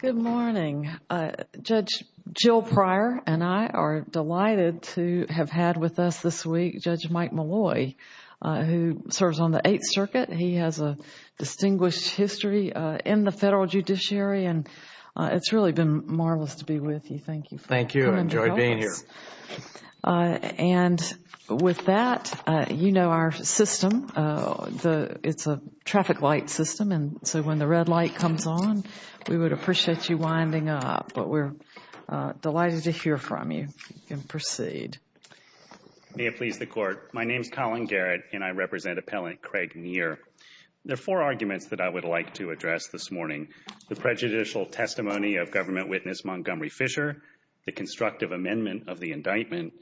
Good morning. Judge Jill Pryor and I are delighted to have had with us this week Judge Mike Malloy who serves on the Eighth Circuit. He has a distinguished history in the Federal Judiciary and it's really been marvelous to be with you. Thank you. Thank you. I enjoyed being here. And with that, you know our system. It's a traffic light system and so when the red light comes on, we would appreciate you winding up. But we're delighted to hear from you. You can proceed. May it please the Court. My name is Colin Garrett and I represent Appellant Craig Near. There are four arguments that I would like to address this morning. The prejudicial testimony of Government Witness Montgomery Fisher, the constructive amendment of the indictment,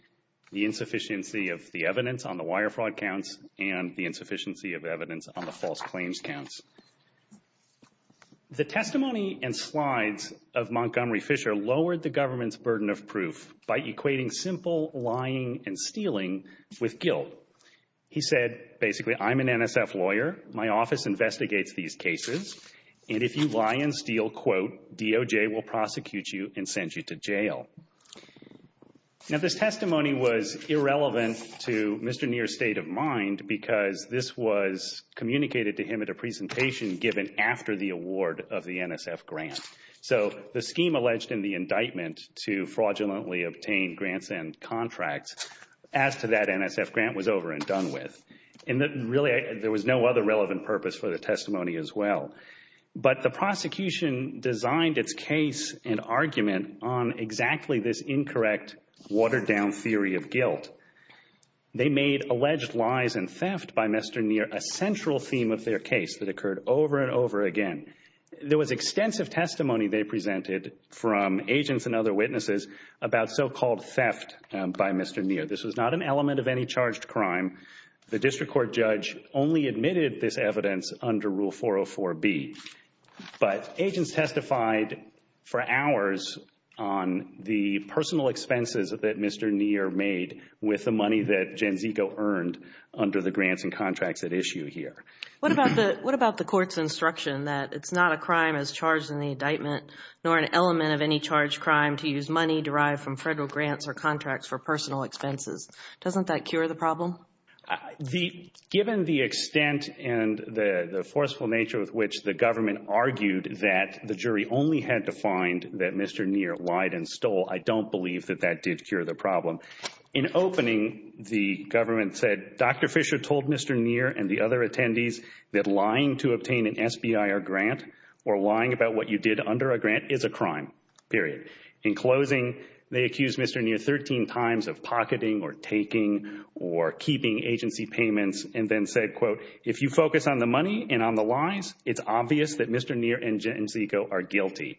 the insufficiency of the evidence on the wire fraud counts, and the insufficiency of evidence on the false claims counts. The testimony and slides of Montgomery Fisher lowered the government's burden of proof by equating simple lying and stealing with guilt. He said basically, I'm an NSF lawyer. My office investigates these cases. And if you lie and steal, quote, DOJ will prosecute you and send you to jail. Now this testimony was irrelevant to Mr. Near's state of mind because this was communicated to him at a presentation given after the award of the NSF grant. So the scheme alleged in the indictment to fraudulently obtain grants and contracts, as to that NSF grant, was over and done with. And really, there was no other relevant purpose for the testimony as well. But the prosecution designed its case and argument on exactly this incorrect watered down theory of guilt. They made alleged lies and theft by Mr. Near a central theme of their case that occurred over and over again. There was extensive testimony they presented from agents and other witnesses about so-called theft by Mr. Near. This was not an element of any charged crime. The district court judge only admitted this evidence under Rule 404B. But agents testified for hours on the personal expenses that Mr. Near made with the money that Janzico earned under the grants and contracts at issue here. What about the court's instruction that it's not a crime as charged in the indictment nor an element of any charged crime to use money derived from federal grants or contracts for personal expenses? Doesn't that cure the problem? Given the extent and the forceful nature with which the government argued that the jury only had to find that Mr. Near lied and stole, I don't believe that that did cure the problem. In opening, the government said, Dr. Fisher told Mr. Near and the other attendees that lying to obtain an SBIR grant or lying about what you did under a grant is a crime, period. In closing, they accused Mr. Near 13 times of pocketing or taking or keeping agency payments and then said, quote, if you focus on the money and on the lies, it's obvious that Mr. Near and Janzico are guilty.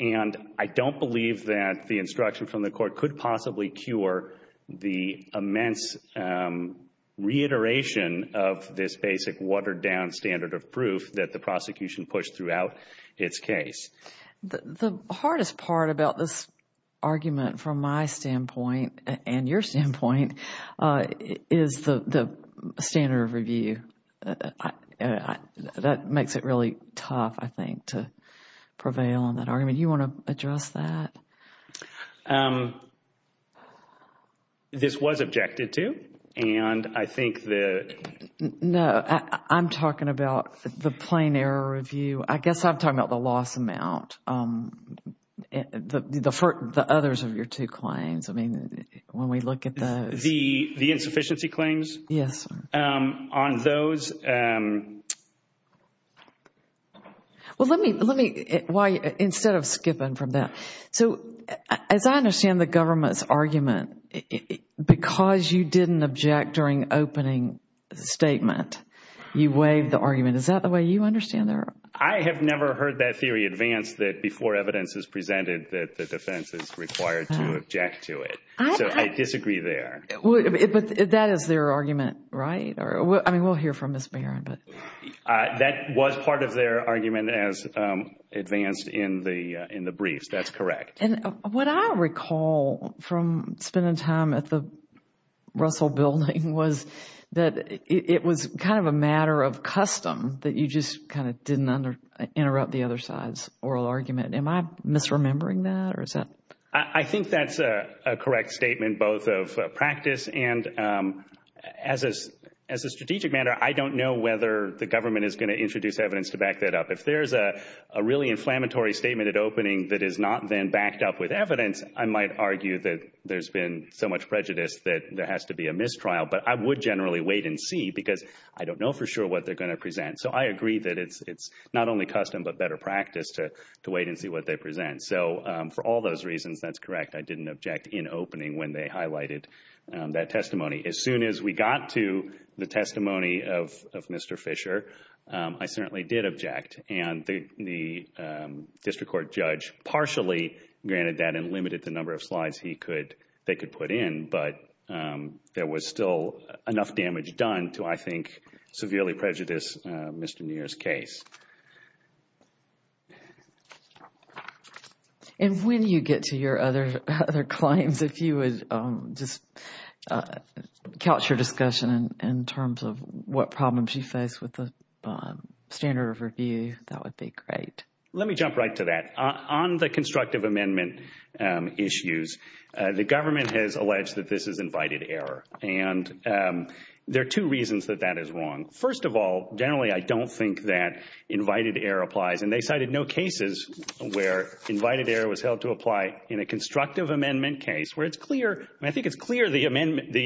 And I don't believe that the instruction from the court could possibly cure the immense reiteration of this basic watered-down standard of proof that the prosecution pushed throughout its case. The hardest part about this argument from my standpoint and your standpoint is the standard of review. That makes it really tough, I think, to prevail on that argument. You want to address that? This was objected to and I think that No, I'm talking about the plain error review. I guess I'm talking about the loss amount. The others of your two claims, I mean, when we look at those. The insufficiency claims? Yes, sir. On those? Well, let me, why instead of skipping from that. So as I understand the government's argument, because you didn't object during opening statement, you waived the argument. Is that the way you understand it? I have never heard that theory advanced that before evidence is presented that the defense is required to object to it. So I disagree there. That is their argument, right? I mean, we'll hear from Ms. Barron. That was part of their argument as advanced in the briefs, that's correct. What I recall from spending time at the Russell Building was that it was kind of a matter of custom that you just kind of didn't interrupt the other side's oral argument. Am I misremembering that or is that? I think that's a correct statement, both of practice and as a strategic matter, I don't know whether the government is going to introduce evidence to back that up. If there's a really inflammatory statement at opening that is not then backed up with evidence, I might argue that there's been so much prejudice that there has to be a mistrial. But I would generally wait and see because I don't know for sure what they're going to present. So I agree that it's not only custom but better practice to wait and see what they present. So for all those reasons, that's correct. I didn't object in opening when they highlighted that testimony. As soon as we got to the testimony of Mr. Fisher, I certainly did object. And the district court judge partially granted that and limited the number of slides they could put in. But there was still enough damage done to, I think, severely prejudice Mr. Neer's case. And when you get to your other claims, if you would just couch your discussion in terms of what problems you face with the standard of review, that would be great. Let me jump right to that. On the constructive amendment issues, the government has alleged that this is invited error. And there are two reasons that that is wrong. First of all, generally I don't think that invited error applies. And they cited no cases where invited error was held to apply in a constructive amendment case where it's clear, I think it's clear the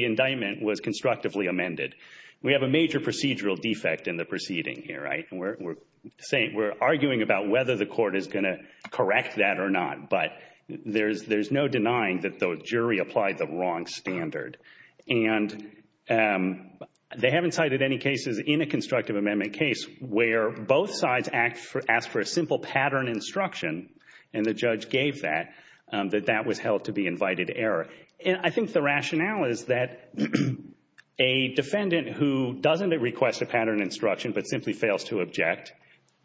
indictment was constructively amended. We have a major procedural defect in the proceeding here, right? And we're arguing about whether the court is going to correct that or not. But there's no denying that the jury applied the wrong standard. And they haven't cited any cases in a constructive amendment case where both sides asked for a simple pattern instruction, and the judge gave that, that that was held to be invited error. And I think the rationale is that a defendant who doesn't request a pattern instruction but simply fails to object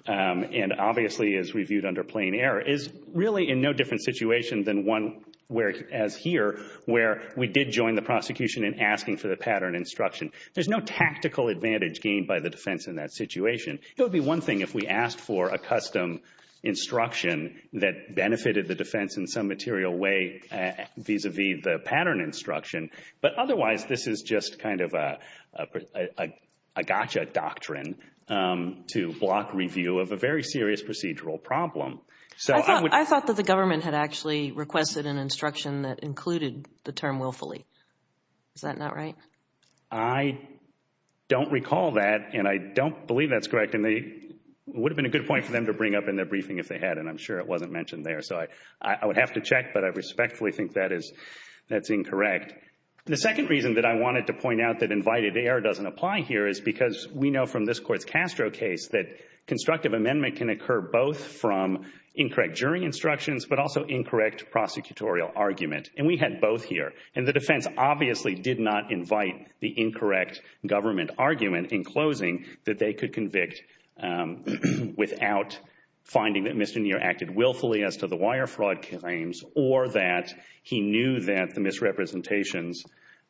and obviously is reviewed under plain error is really in no different situation than one where, as here, where we did join the prosecution in asking for the pattern instruction. There's no tactical advantage gained by the defense in that situation. It would be one thing if we asked for a custom instruction that benefited the defense in some material way vis-a-vis the pattern instruction. But otherwise, this is just kind of a gotcha doctrine to block review of a very serious procedural problem. So I would— I thought that the government had actually requested an instruction that included the term willfully. Is that not right? I don't recall that, and I don't believe that's correct. And it would have been a good point for them to bring up in their briefing if they had, and I'm sure it wasn't mentioned there. So I would have to check, but I respectfully think that is—that's incorrect. The second reason that I wanted to point out that invited error doesn't apply here is because we know from this Court's Castro case that constructive amendment can occur both from incorrect jury instructions but also incorrect prosecutorial argument. And we had both here. And the defense obviously did not invite the incorrect government argument in closing that they could convict without finding that Mr. Neer acted willfully as to the wire fraud claims or that he knew that the misrepresentations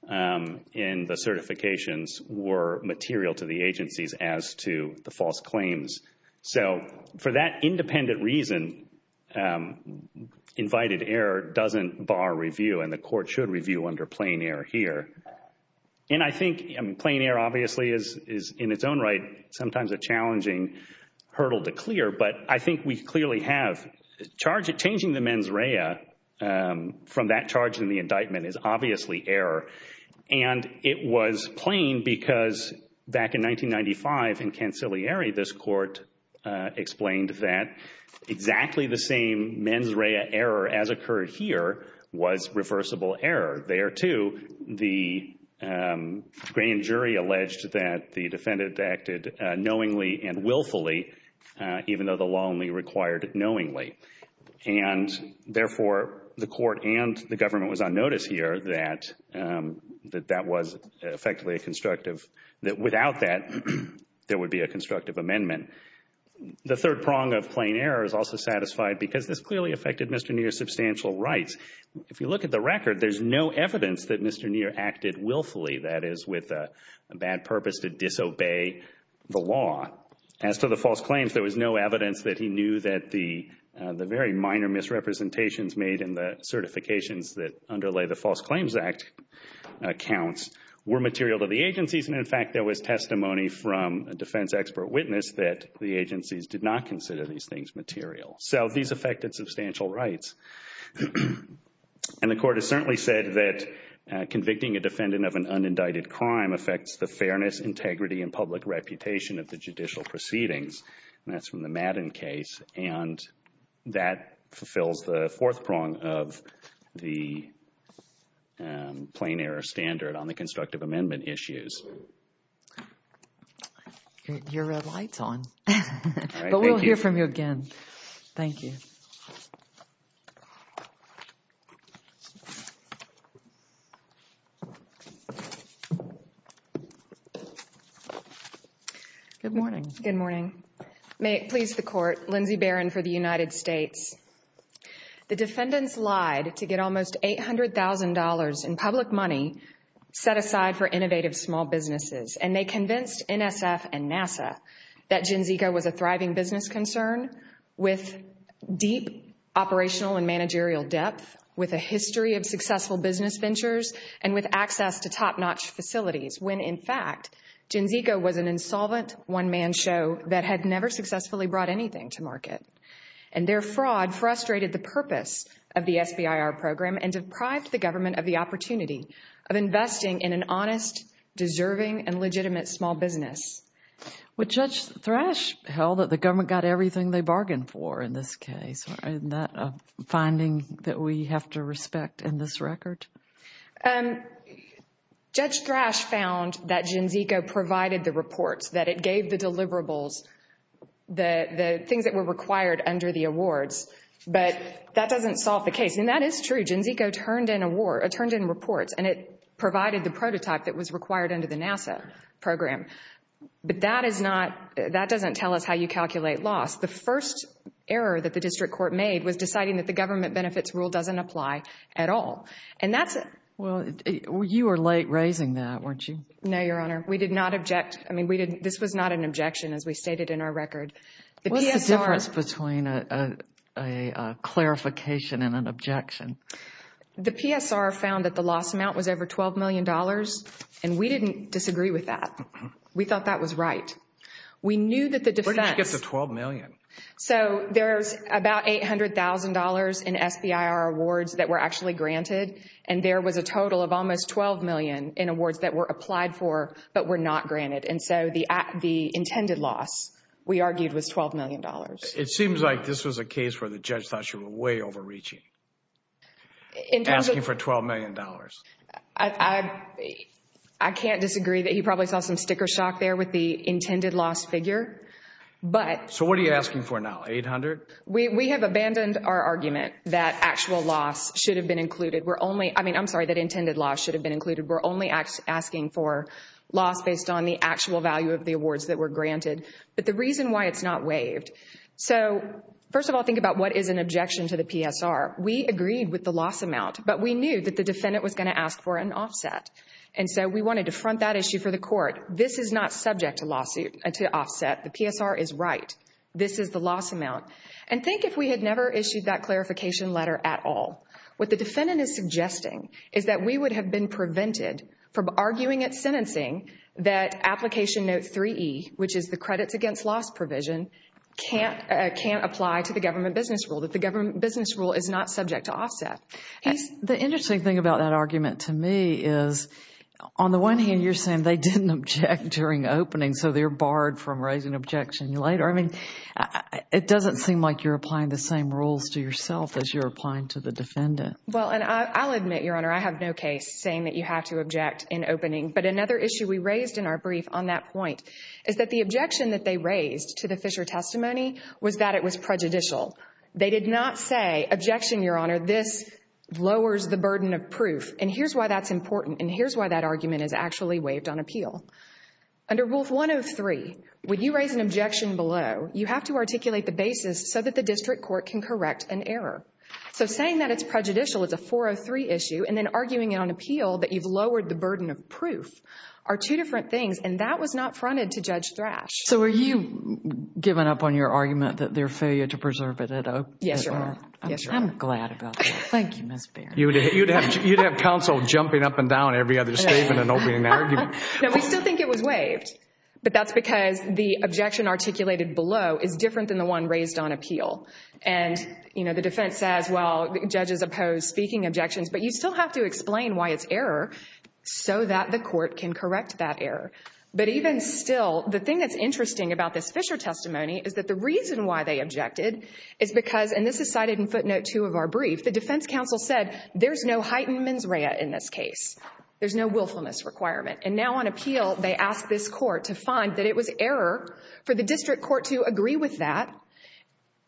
in the certifications were material to the agencies as to the false claims. So for that independent reason, invited error doesn't bar review, and the Court should review under plain error here. And I think plain error obviously is, in its own right, sometimes a challenging hurdle to clear, but I think we clearly have—changing the mens rea from that charge in the indictment is obviously error. And it was plain because back in 1995 in Canciliary, this Court explained that exactly the same mens rea error as occurred here was reversible error. There, too, the grand jury alleged that the defendant acted knowingly and willfully even though the law only required knowingly. And therefore, the Court and the government was on notice here that that was effectively a constructive—that without that, there would be a constructive amendment. The third prong of plain error is also satisfied because this clearly affected Mr. Neer's substantial rights. If you look at the record, there's no evidence that Mr. Neer acted willfully, that is, with a bad purpose to disobey the law. As to the false claims, there was no evidence that he knew that the very minor misrepresentations made in the certifications that underlay the False Claims Act accounts were material to the agencies. And in fact, there was testimony from a defense expert witness that the agencies did not consider these things material. So these affected substantial rights. And the Court has certainly said that convicting a defendant of an unindicted crime affects the fairness, integrity, and public reputation of the judicial proceedings, and that's from the Madden case. And that fulfills the fourth prong of the plain error standard on the constructive amendment issues. Your red light's on, but we'll hear from you again. Thank you. Good morning. Good morning. May it please the Court, Lindsay Barron for the United States. The defendants lied to get almost $800,000 in public money set aside for innovative small businesses, and they convinced NSF and NASA that Gen Zco was a thriving business concern with deep operational and managerial depth, with a history of successful business ventures, and with access to top-notch facilities, when in fact, Gen Zco was an insolvent one-man show that had never successfully brought anything to market. And their fraud frustrated the purpose of the SBIR program and deprived the government of the opportunity of investing in an honest, deserving, and legitimate small business. Would Judge Thrash held that the government got everything they bargained for in this case? Isn't that a finding that we have to respect in this record? Judge Thrash found that Gen Zco provided the reports, that it gave the deliverables, the things that were required under the awards, but that doesn't solve the case. And that is true. Gen Zco turned in reports, and it provided the prototype that was required under the NASA program, but that doesn't tell us how you calculate loss. The first error that the district court made was deciding that the government benefits rule doesn't apply at all. And that's a... Well, you were late raising that, weren't you? No, Your Honor. We did not object. I mean, this was not an objection, as we stated in our record. What's the difference between a clarification and an objection? The PSR found that the loss amount was over $12 million, and we didn't disagree with that. We thought that was right. We knew that the defense... Where did you get the $12 million? So there's about $800,000 in SBIR awards that were actually granted, and there was a total of almost $12 million in awards that were applied for but were not granted. And so the intended loss, we argued, was $12 million. It seems like this was a case where the judge thought you were way overreaching, asking for $12 million. I can't disagree that he probably saw some sticker shock there with the intended loss figure. But... So what are you asking for now, $800,000? We have abandoned our argument that actual loss should have been included. We're only... I mean, I'm sorry, that intended loss should have been included. We're only asking for loss based on the actual value of the awards that were granted. But the reason why it's not waived... So first of all, think about what is an objection to the PSR. We agreed with the loss amount, but we knew that the defendant was going to ask for an offset. And so we wanted to front that issue for the court. This is not subject to lawsuit, to offset. The PSR is right. This is the loss amount. And think if we had never issued that clarification letter at all. What the defendant is suggesting is that we would have been prevented from arguing at sentencing that application note 3E, which is the credits against loss provision, can't apply to the government business rule, that the government business rule is not subject to offset. He's... The interesting thing about that argument to me is, on the one hand, you're saying they didn't object during opening, so they're barred from raising objection later. I mean, it doesn't seem like you're applying the same rules to yourself as you're applying to the defendant. Well, and I'll admit, Your Honor, I have no case saying that you have to object in opening. But another issue we raised in our brief on that point is that the objection that they raised to the Fisher testimony was that it was prejudicial. They did not say, objection, Your Honor, this lowers the burden of proof. And here's why that's important, and here's why that argument is actually waived on appeal. Under Rule 103, when you raise an objection below, you have to articulate the basis so that the district court can correct an error. So, saying that it's prejudicial, it's a 403 issue, and then arguing it on appeal that you've lowered the burden of proof are two different things, and that was not fronted to Judge Thrash. So, were you giving up on your argument that their failure to preserve it had opened it Yes, Your Honor. Yes, Your Honor. I'm glad about that. Thank you, Ms. Baird. You'd have counsel jumping up and down every other statement and opening the argument. No, we still think it was waived, but that's because the objection articulated below is You know, the defense says, well, judges oppose speaking objections, but you still have to explain why it's error so that the court can correct that error. But even still, the thing that's interesting about this Fisher testimony is that the reason why they objected is because, and this is cited in footnote two of our brief, the defense counsel said, there's no heightened mens rea in this case. There's no willfulness requirement. And now on appeal, they ask this court to find that it was error for the district court to agree with that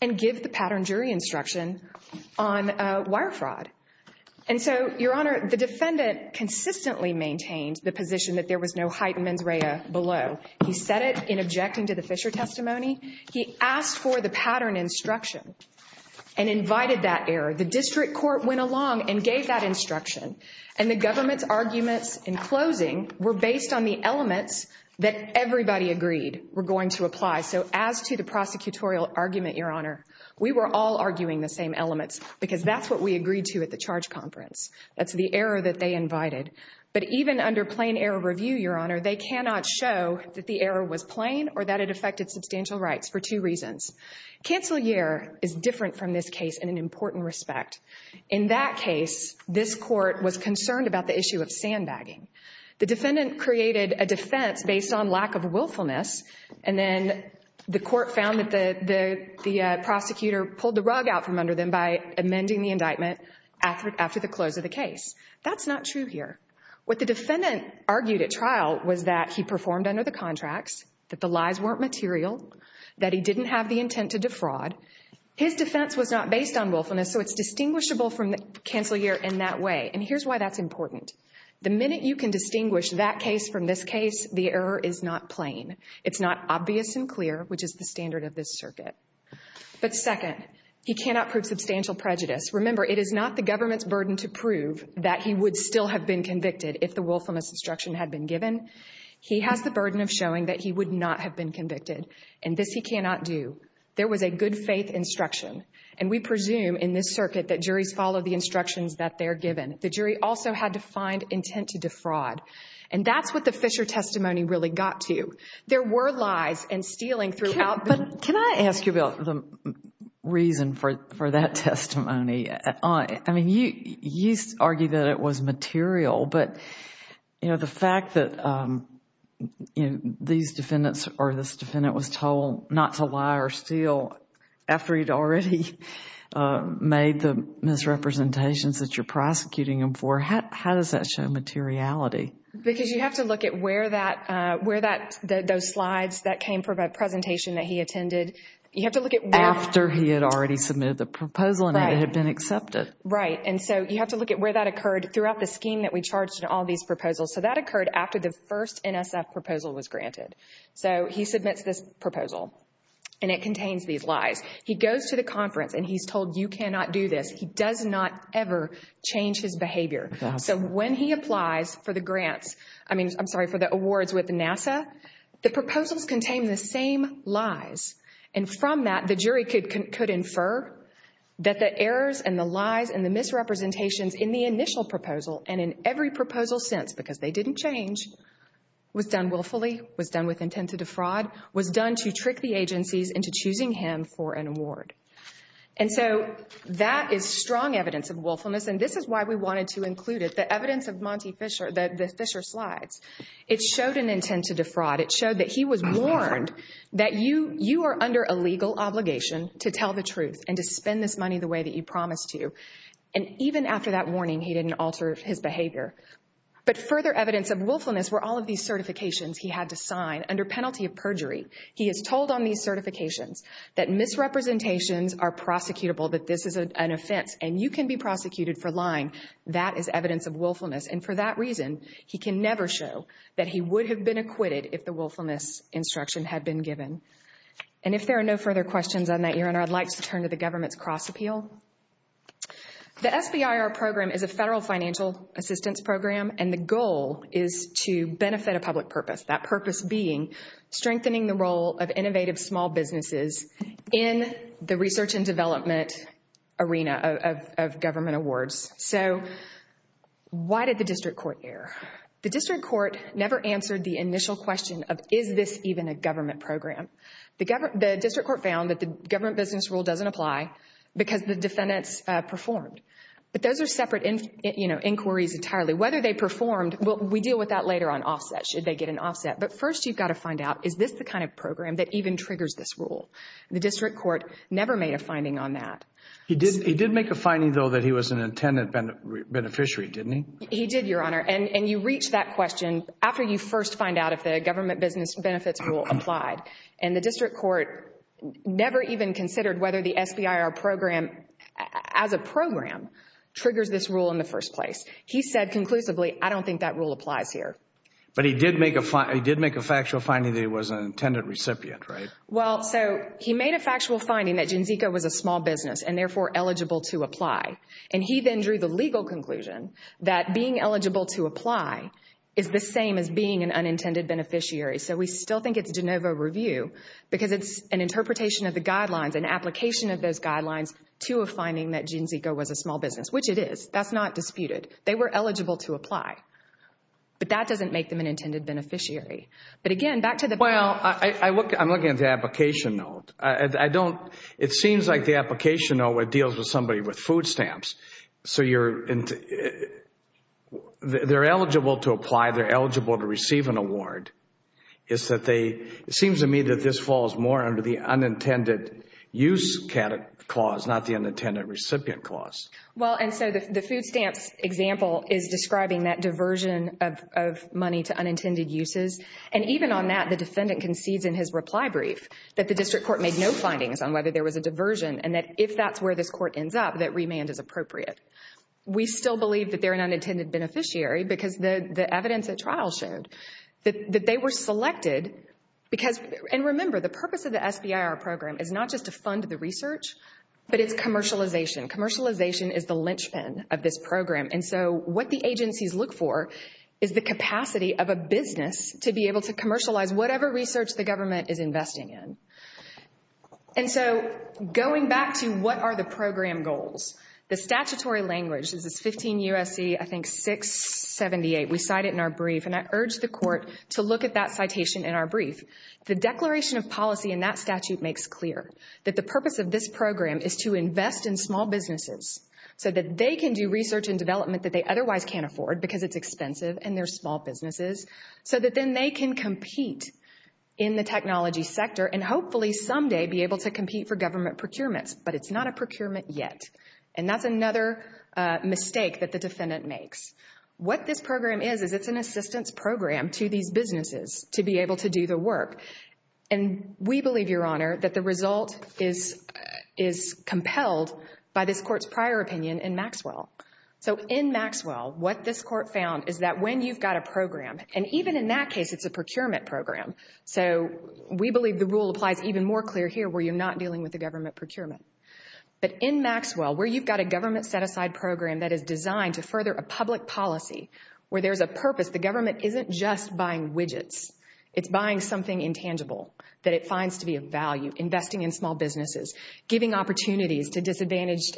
and give the pattern jury instruction on wire fraud. And so, Your Honor, the defendant consistently maintained the position that there was no heightened mens rea below. He said it in objecting to the Fisher testimony. He asked for the pattern instruction and invited that error. The district court went along and gave that instruction. And the government's arguments in closing were based on the elements that everybody agreed were going to apply. So as to the prosecutorial argument, Your Honor, we were all arguing the same elements because that's what we agreed to at the charge conference. That's the error that they invited. But even under plain error review, Your Honor, they cannot show that the error was plain or that it affected substantial rights for two reasons. Cancel year is different from this case in an important respect. In that case, this court was concerned about the issue of sandbagging. The defendant created a defense based on lack of willfulness. And then the court found that the prosecutor pulled the rug out from under them by amending the indictment after the close of the case. That's not true here. What the defendant argued at trial was that he performed under the contracts, that the lies weren't material, that he didn't have the intent to defraud. His defense was not based on willfulness, so it's distinguishable from the cancel year in that way. And here's why that's important. The minute you can distinguish that case from this case, the error is not plain. It's not obvious and clear, which is the standard of this circuit. But second, he cannot prove substantial prejudice. Remember, it is not the government's burden to prove that he would still have been convicted if the willfulness instruction had been given. He has the burden of showing that he would not have been convicted. And this he cannot do. There was a good faith instruction. And we presume in this circuit that juries follow the instructions that they're given. The jury also had to find intent to defraud. And that's what the Fisher testimony really got to. There were lies and stealing throughout the... But can I ask you about the reason for that testimony? I mean, you used to argue that it was material, but the fact that these defendants or this defendant was told not to lie or steal after he'd already made the misrepresentations that you're prosecuting him for, how does that show materiality? Because you have to look at where that... where that... those slides that came from a presentation that he attended. You have to look at where... After he had already submitted the proposal and it had been accepted. Right. And so you have to look at where that occurred throughout the scheme that we charged in all these proposals. So that occurred after the first NSF proposal was granted. So he submits this proposal and it contains these lies. He goes to the conference and he's told you cannot do this. He does not ever change his behavior. So when he applies for the grants, I mean, I'm sorry, for the awards with NASA, the proposals contain the same lies. And from that, the jury could infer that the errors and the lies and the misrepresentations in the initial proposal and in every proposal since, because they didn't change, was done willfully, was done with intent to defraud, was done to trick the agencies into choosing him for an award. And so that is strong evidence of willfulness. And this is why we wanted to include it, the evidence of the Fischer slides. It showed an intent to defraud. It showed that he was warned that you are under a legal obligation to tell the truth and to spend this money the way that you promised to. And even after that warning, he didn't alter his behavior. But further evidence of willfulness were all of these certifications he had to sign under penalty of perjury. He is told on these certifications that misrepresentations are prosecutable, that this is an offense and you can be prosecuted for lying. That is evidence of willfulness. And for that reason, he can never show that he would have been acquitted if the willfulness instruction had been given. And if there are no further questions on that, Your Honor, I'd like to turn to the government's cross-appeal. The SBIR program is a federal financial assistance program, and the goal is to benefit a public That purpose being strengthening the role of innovative small businesses in the research and development arena of government awards. So why did the district court err? The district court never answered the initial question of, is this even a government program? The district court found that the government business rule doesn't apply because the defendants performed. But those are separate inquiries entirely. Whether they performed, we deal with that later on offsets, should they get an offset. But first you've got to find out, is this the kind of program that even triggers this rule? The district court never made a finding on that. He did make a finding though that he was an intended beneficiary, didn't he? He did, Your Honor. And you reach that question after you first find out if the government business benefits rule applied. And the district court never even considered whether the SBIR program, as a program, triggers this rule in the first place. He said conclusively, I don't think that rule applies here. But he did make a factual finding that he was an intended recipient, right? Well, so he made a factual finding that GenZeco was a small business and therefore eligible to apply. And he then drew the legal conclusion that being eligible to apply is the same as being an unintended beneficiary. So we still think it's de novo review because it's an interpretation of the guidelines, an application of those guidelines to a finding that GenZeco was a small business, which it is. That's not disputed. They were eligible to apply. But that doesn't make them an intended beneficiary. But again, back to the... Well, I'm looking at the application note. It seems like the application note deals with somebody with food stamps. So they're eligible to apply, they're eligible to receive an award. It seems to me that this falls more under the unintended use clause, not the unintended recipient clause. Well, and so the food stamps example is describing that diversion of money to unintended uses. And even on that, the defendant concedes in his reply brief that the district court made no findings on whether there was a diversion and that if that's where this court ends up, that remand is appropriate. We still believe that they're an unintended beneficiary because the evidence at trial showed that they were selected because... And remember, the purpose of the SBIR program is not just to fund the research, but it's commercialization. Commercialization is the linchpin of this program. And so what the agencies look for is the capacity of a business to be able to commercialize whatever research the government is investing in. And so going back to what are the program goals, the statutory language, this is 15 U.S.C., I think 678, we cite it in our brief, and I urge the court to look at that citation in our brief. The declaration of policy in that statute makes clear that the purpose of this program is to invest in small businesses so that they can do research and development that they otherwise can't afford because it's expensive and they're small businesses, so that then they can compete in the technology sector and hopefully someday be able to compete for government procurements, but it's not a procurement yet. And that's another mistake that the defendant makes. What this program is, is it's an assistance program to these businesses to be able to do the work. And we believe, Your Honor, that the result is compelled by this court's prior opinion in Maxwell. So in Maxwell, what this court found is that when you've got a program, and even in that case it's a procurement program, so we believe the rule applies even more clear here where you're not dealing with a government procurement. But in Maxwell, where you've got a government set-aside program that is designed to further a public policy, where there's a purpose, the government isn't just buying widgets. It's buying something intangible that it finds to be of value. Investing in small businesses, giving opportunities to disadvantaged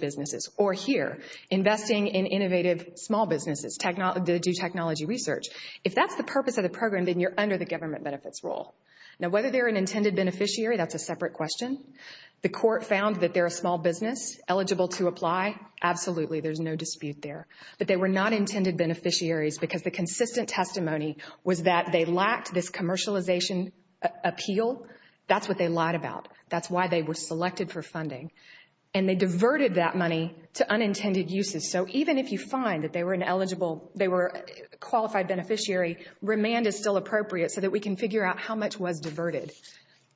businesses, or here, investing in innovative small businesses to do technology research. If that's the purpose of the program, then you're under the government benefits rule. Now whether they're an intended beneficiary, that's a separate question. The court found that they're a small business eligible to apply, absolutely, there's no dispute there. But they were not intended beneficiaries because the consistent testimony was that they lacked this commercialization appeal. That's what they lied about. That's why they were selected for funding. And they diverted that money to unintended uses. So even if you find that they were an eligible, they were a qualified beneficiary, remand is still appropriate so that we can figure out how much was diverted.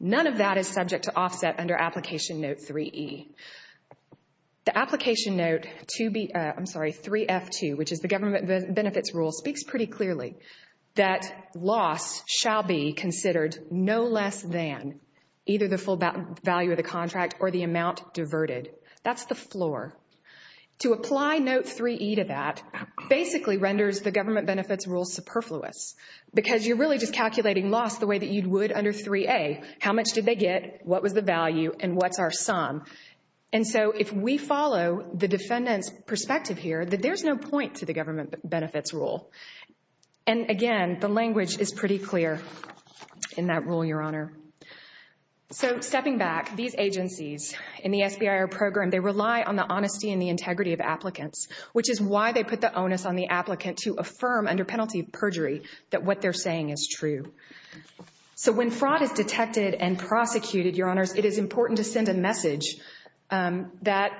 None of that is subject to offset under Application Note 3E. The Application Note 2B, I'm sorry, 3F2, which is the government benefits rule, speaks pretty clearly that loss shall be considered no less than either the full value of the contract or the amount diverted. That's the floor. To apply Note 3E to that basically renders the government benefits rule superfluous because you're really just calculating loss the way that you would under 3A. How much did they get? What was the value? And what's our sum? And so if we follow the defendant's perspective here, there's no point to the government benefits rule. And again, the language is pretty clear in that rule, Your Honor. So stepping back, these agencies in the SBIR program, they rely on the honesty and the integrity of applicants, which is why they put the onus on the applicant to affirm under penalty of perjury that what they're saying is true. So when fraud is detected and prosecuted, Your Honors, it is important to send a message that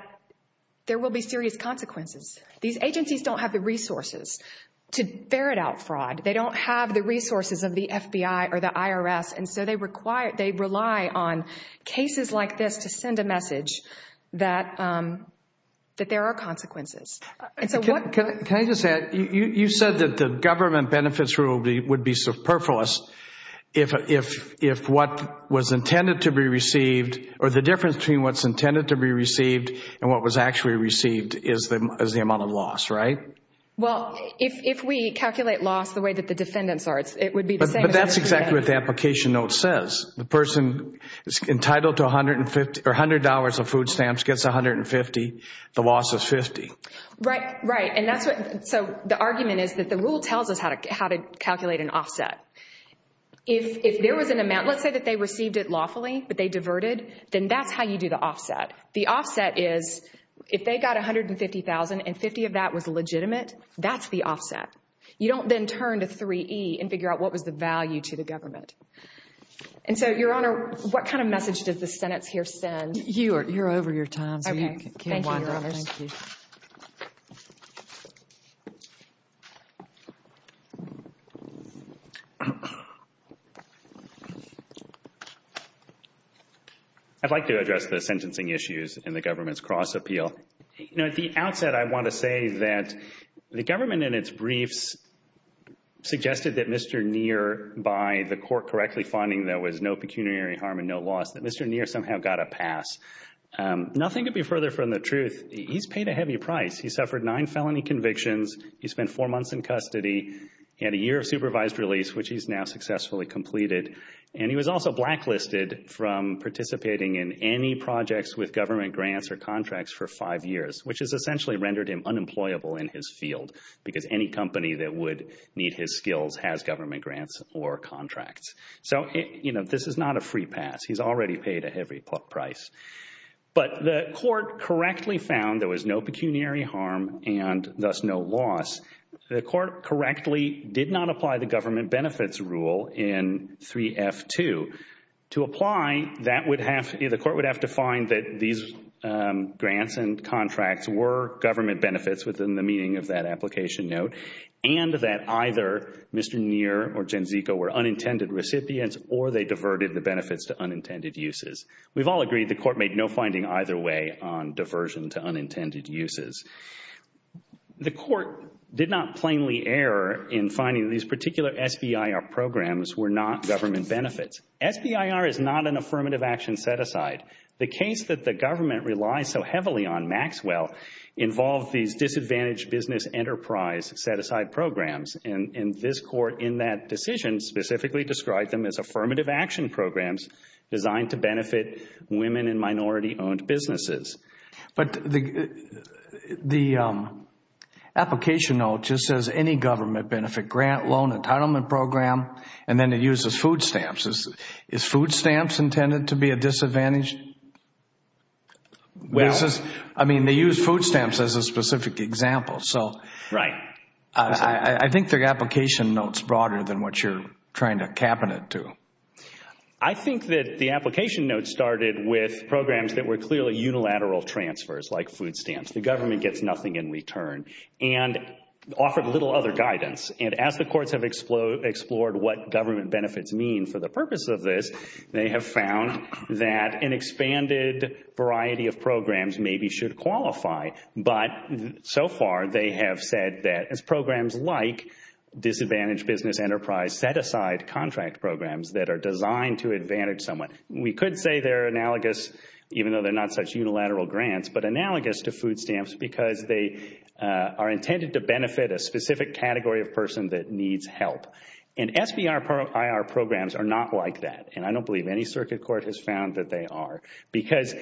there will be serious consequences. These agencies don't have the resources to ferret out fraud. They don't have the resources of the FBI or the IRS. And so they rely on cases like this to send a message that there are consequences. Can I just add, you said that the government benefits rule would be superfluous if what was intended to be received or the difference between what's intended to be received and what was actually received is the amount of loss, right? Well, if we calculate loss the way that the defendants are, it would be the same. But that's exactly what the application note says. The person is entitled to $100 of food stamps gets $150, the loss is $50. Right, right. And that's what, so the argument is that the rule tells us how to calculate an offset. If there was an amount, let's say that they received it lawfully, but they diverted, then that's how you do the offset. The offset is if they got $150,000 and $50,000 of that was legitimate, that's the offset. You don't then turn to 3E and figure out what was the value to the government. And so, Your Honor, what kind of message does the Senate's here send? You're over your time, so you can wind up. Thank you, Your Honor. I'd like to address the sentencing issues in the government's cross appeal. You know, at the outset, I want to say that the government in its briefs suggested that Mr. Neer, by the court correctly finding there was no pecuniary harm and no loss, that Mr. Neer somehow got a pass. Nothing could be further from the truth. He's paid a heavy price. He suffered nine felony convictions. He spent four months in custody. He had a year of supervised release, which he's now successfully completed. And he was also blacklisted from participating in any projects with government grants or contracts for five years, which has essentially rendered him unemployable in his field, because any company that would need his skills has government grants or contracts. So, you know, this is not a free pass. He's already paid a heavy price. But the court correctly found there was no pecuniary harm and thus no loss. The court correctly did not apply the government benefits rule in 3F2. To apply, the court would have to find that these grants and contracts were government benefits within the meaning of that application note and that either Mr. Neer or Genziko were unintended recipients or they diverted the benefits to unintended uses. We've all agreed the court made no finding either way on diversion to unintended uses. The court did not plainly err in finding these particular SBIR programs were not government benefits. The case that the government relies so heavily on, Maxwell, involved these disadvantaged business enterprise set-aside programs. And this court in that decision specifically described them as affirmative action programs designed to benefit women and minority-owned businesses. But the application note just says any government benefit grant, loan, entitlement program, and then it uses food stamps. Is food stamps intended to be a disadvantage? I mean, they use food stamps as a specific example. So I think their application note is broader than what you're trying to cabinet to. I think that the application note started with programs that were clearly unilateral transfers like food stamps. The government gets nothing in return and offered little other guidance. And as the courts have explored what government benefits mean for the purpose of this, they have found that an expanded variety of programs maybe should qualify. But so far, they have said that as programs like disadvantaged business enterprise set-aside contract programs that are designed to advantage someone. We could say they're analogous, even though they're not such unilateral grants, but analogous to food stamps because they are intended to benefit a specific category of person that needs help. And SBIR programs are not like that, and I don't believe any circuit court has found that they are, because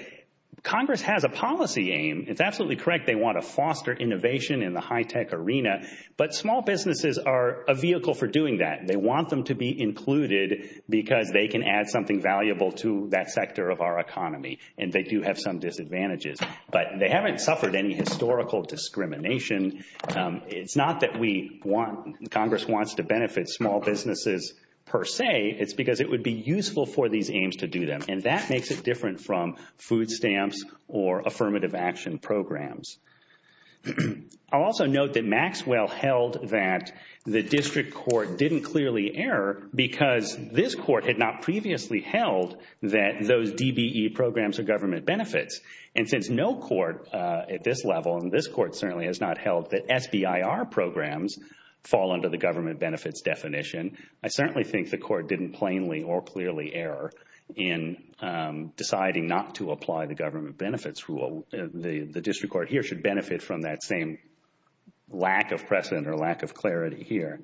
Congress has a policy aim. It's absolutely correct they want to foster innovation in the high-tech arena, but small businesses are a vehicle for doing that. They want them to be included because they can add something valuable to that sector of our economy, and they do have some disadvantages. But they haven't suffered any historical discrimination. It's not that Congress wants to benefit small businesses per se. It's because it would be useful for these aims to do them, and that makes it different from food stamps or affirmative action programs. I'll also note that Maxwell held that the district court didn't clearly err because this court had not previously held that those DBE programs are government benefits. And since no court at this level, and this court certainly has not held, that SBIR programs fall under the government benefits definition, I certainly think the court didn't plainly or clearly err in deciding not to apply the government benefits rule. The district court here should benefit from that same lack of precedent or lack of clarity here.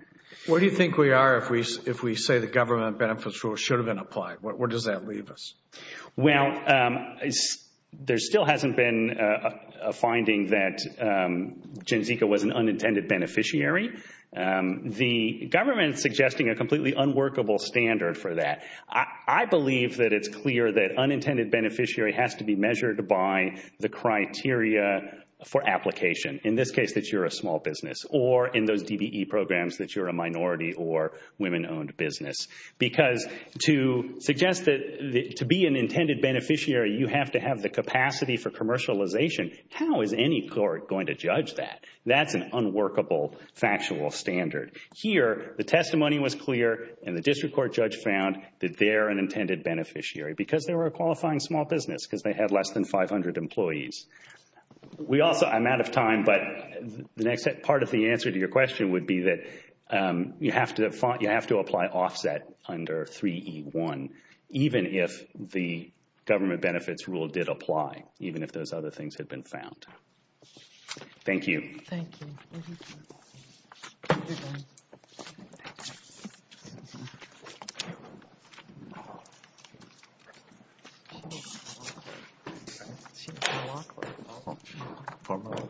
What do you think we are if we say the government benefits rule should have been applied? Where does that leave us? Well, there still hasn't been a finding that Gen Zika was an unintended beneficiary. The government is suggesting a completely unworkable standard for that. I believe that it's clear that unintended beneficiary has to be measured by the criteria for application, in this case that you're a small business, or in those DBE programs that you're a minority or women-owned business. Because to suggest that to be an intended beneficiary you have to have the capacity for commercialization, how is any court going to judge that? That's an unworkable factual standard. Here, the testimony was clear and the district court judge found that they're an intended beneficiary because they were a qualifying small business because they had less than 500 employees. I'm out of time, but part of the answer to your question would be that you have to apply offset under 3E1, even if the government benefits rule did apply, even if those other things had been found. Thank you. Thank you. Formal. All right.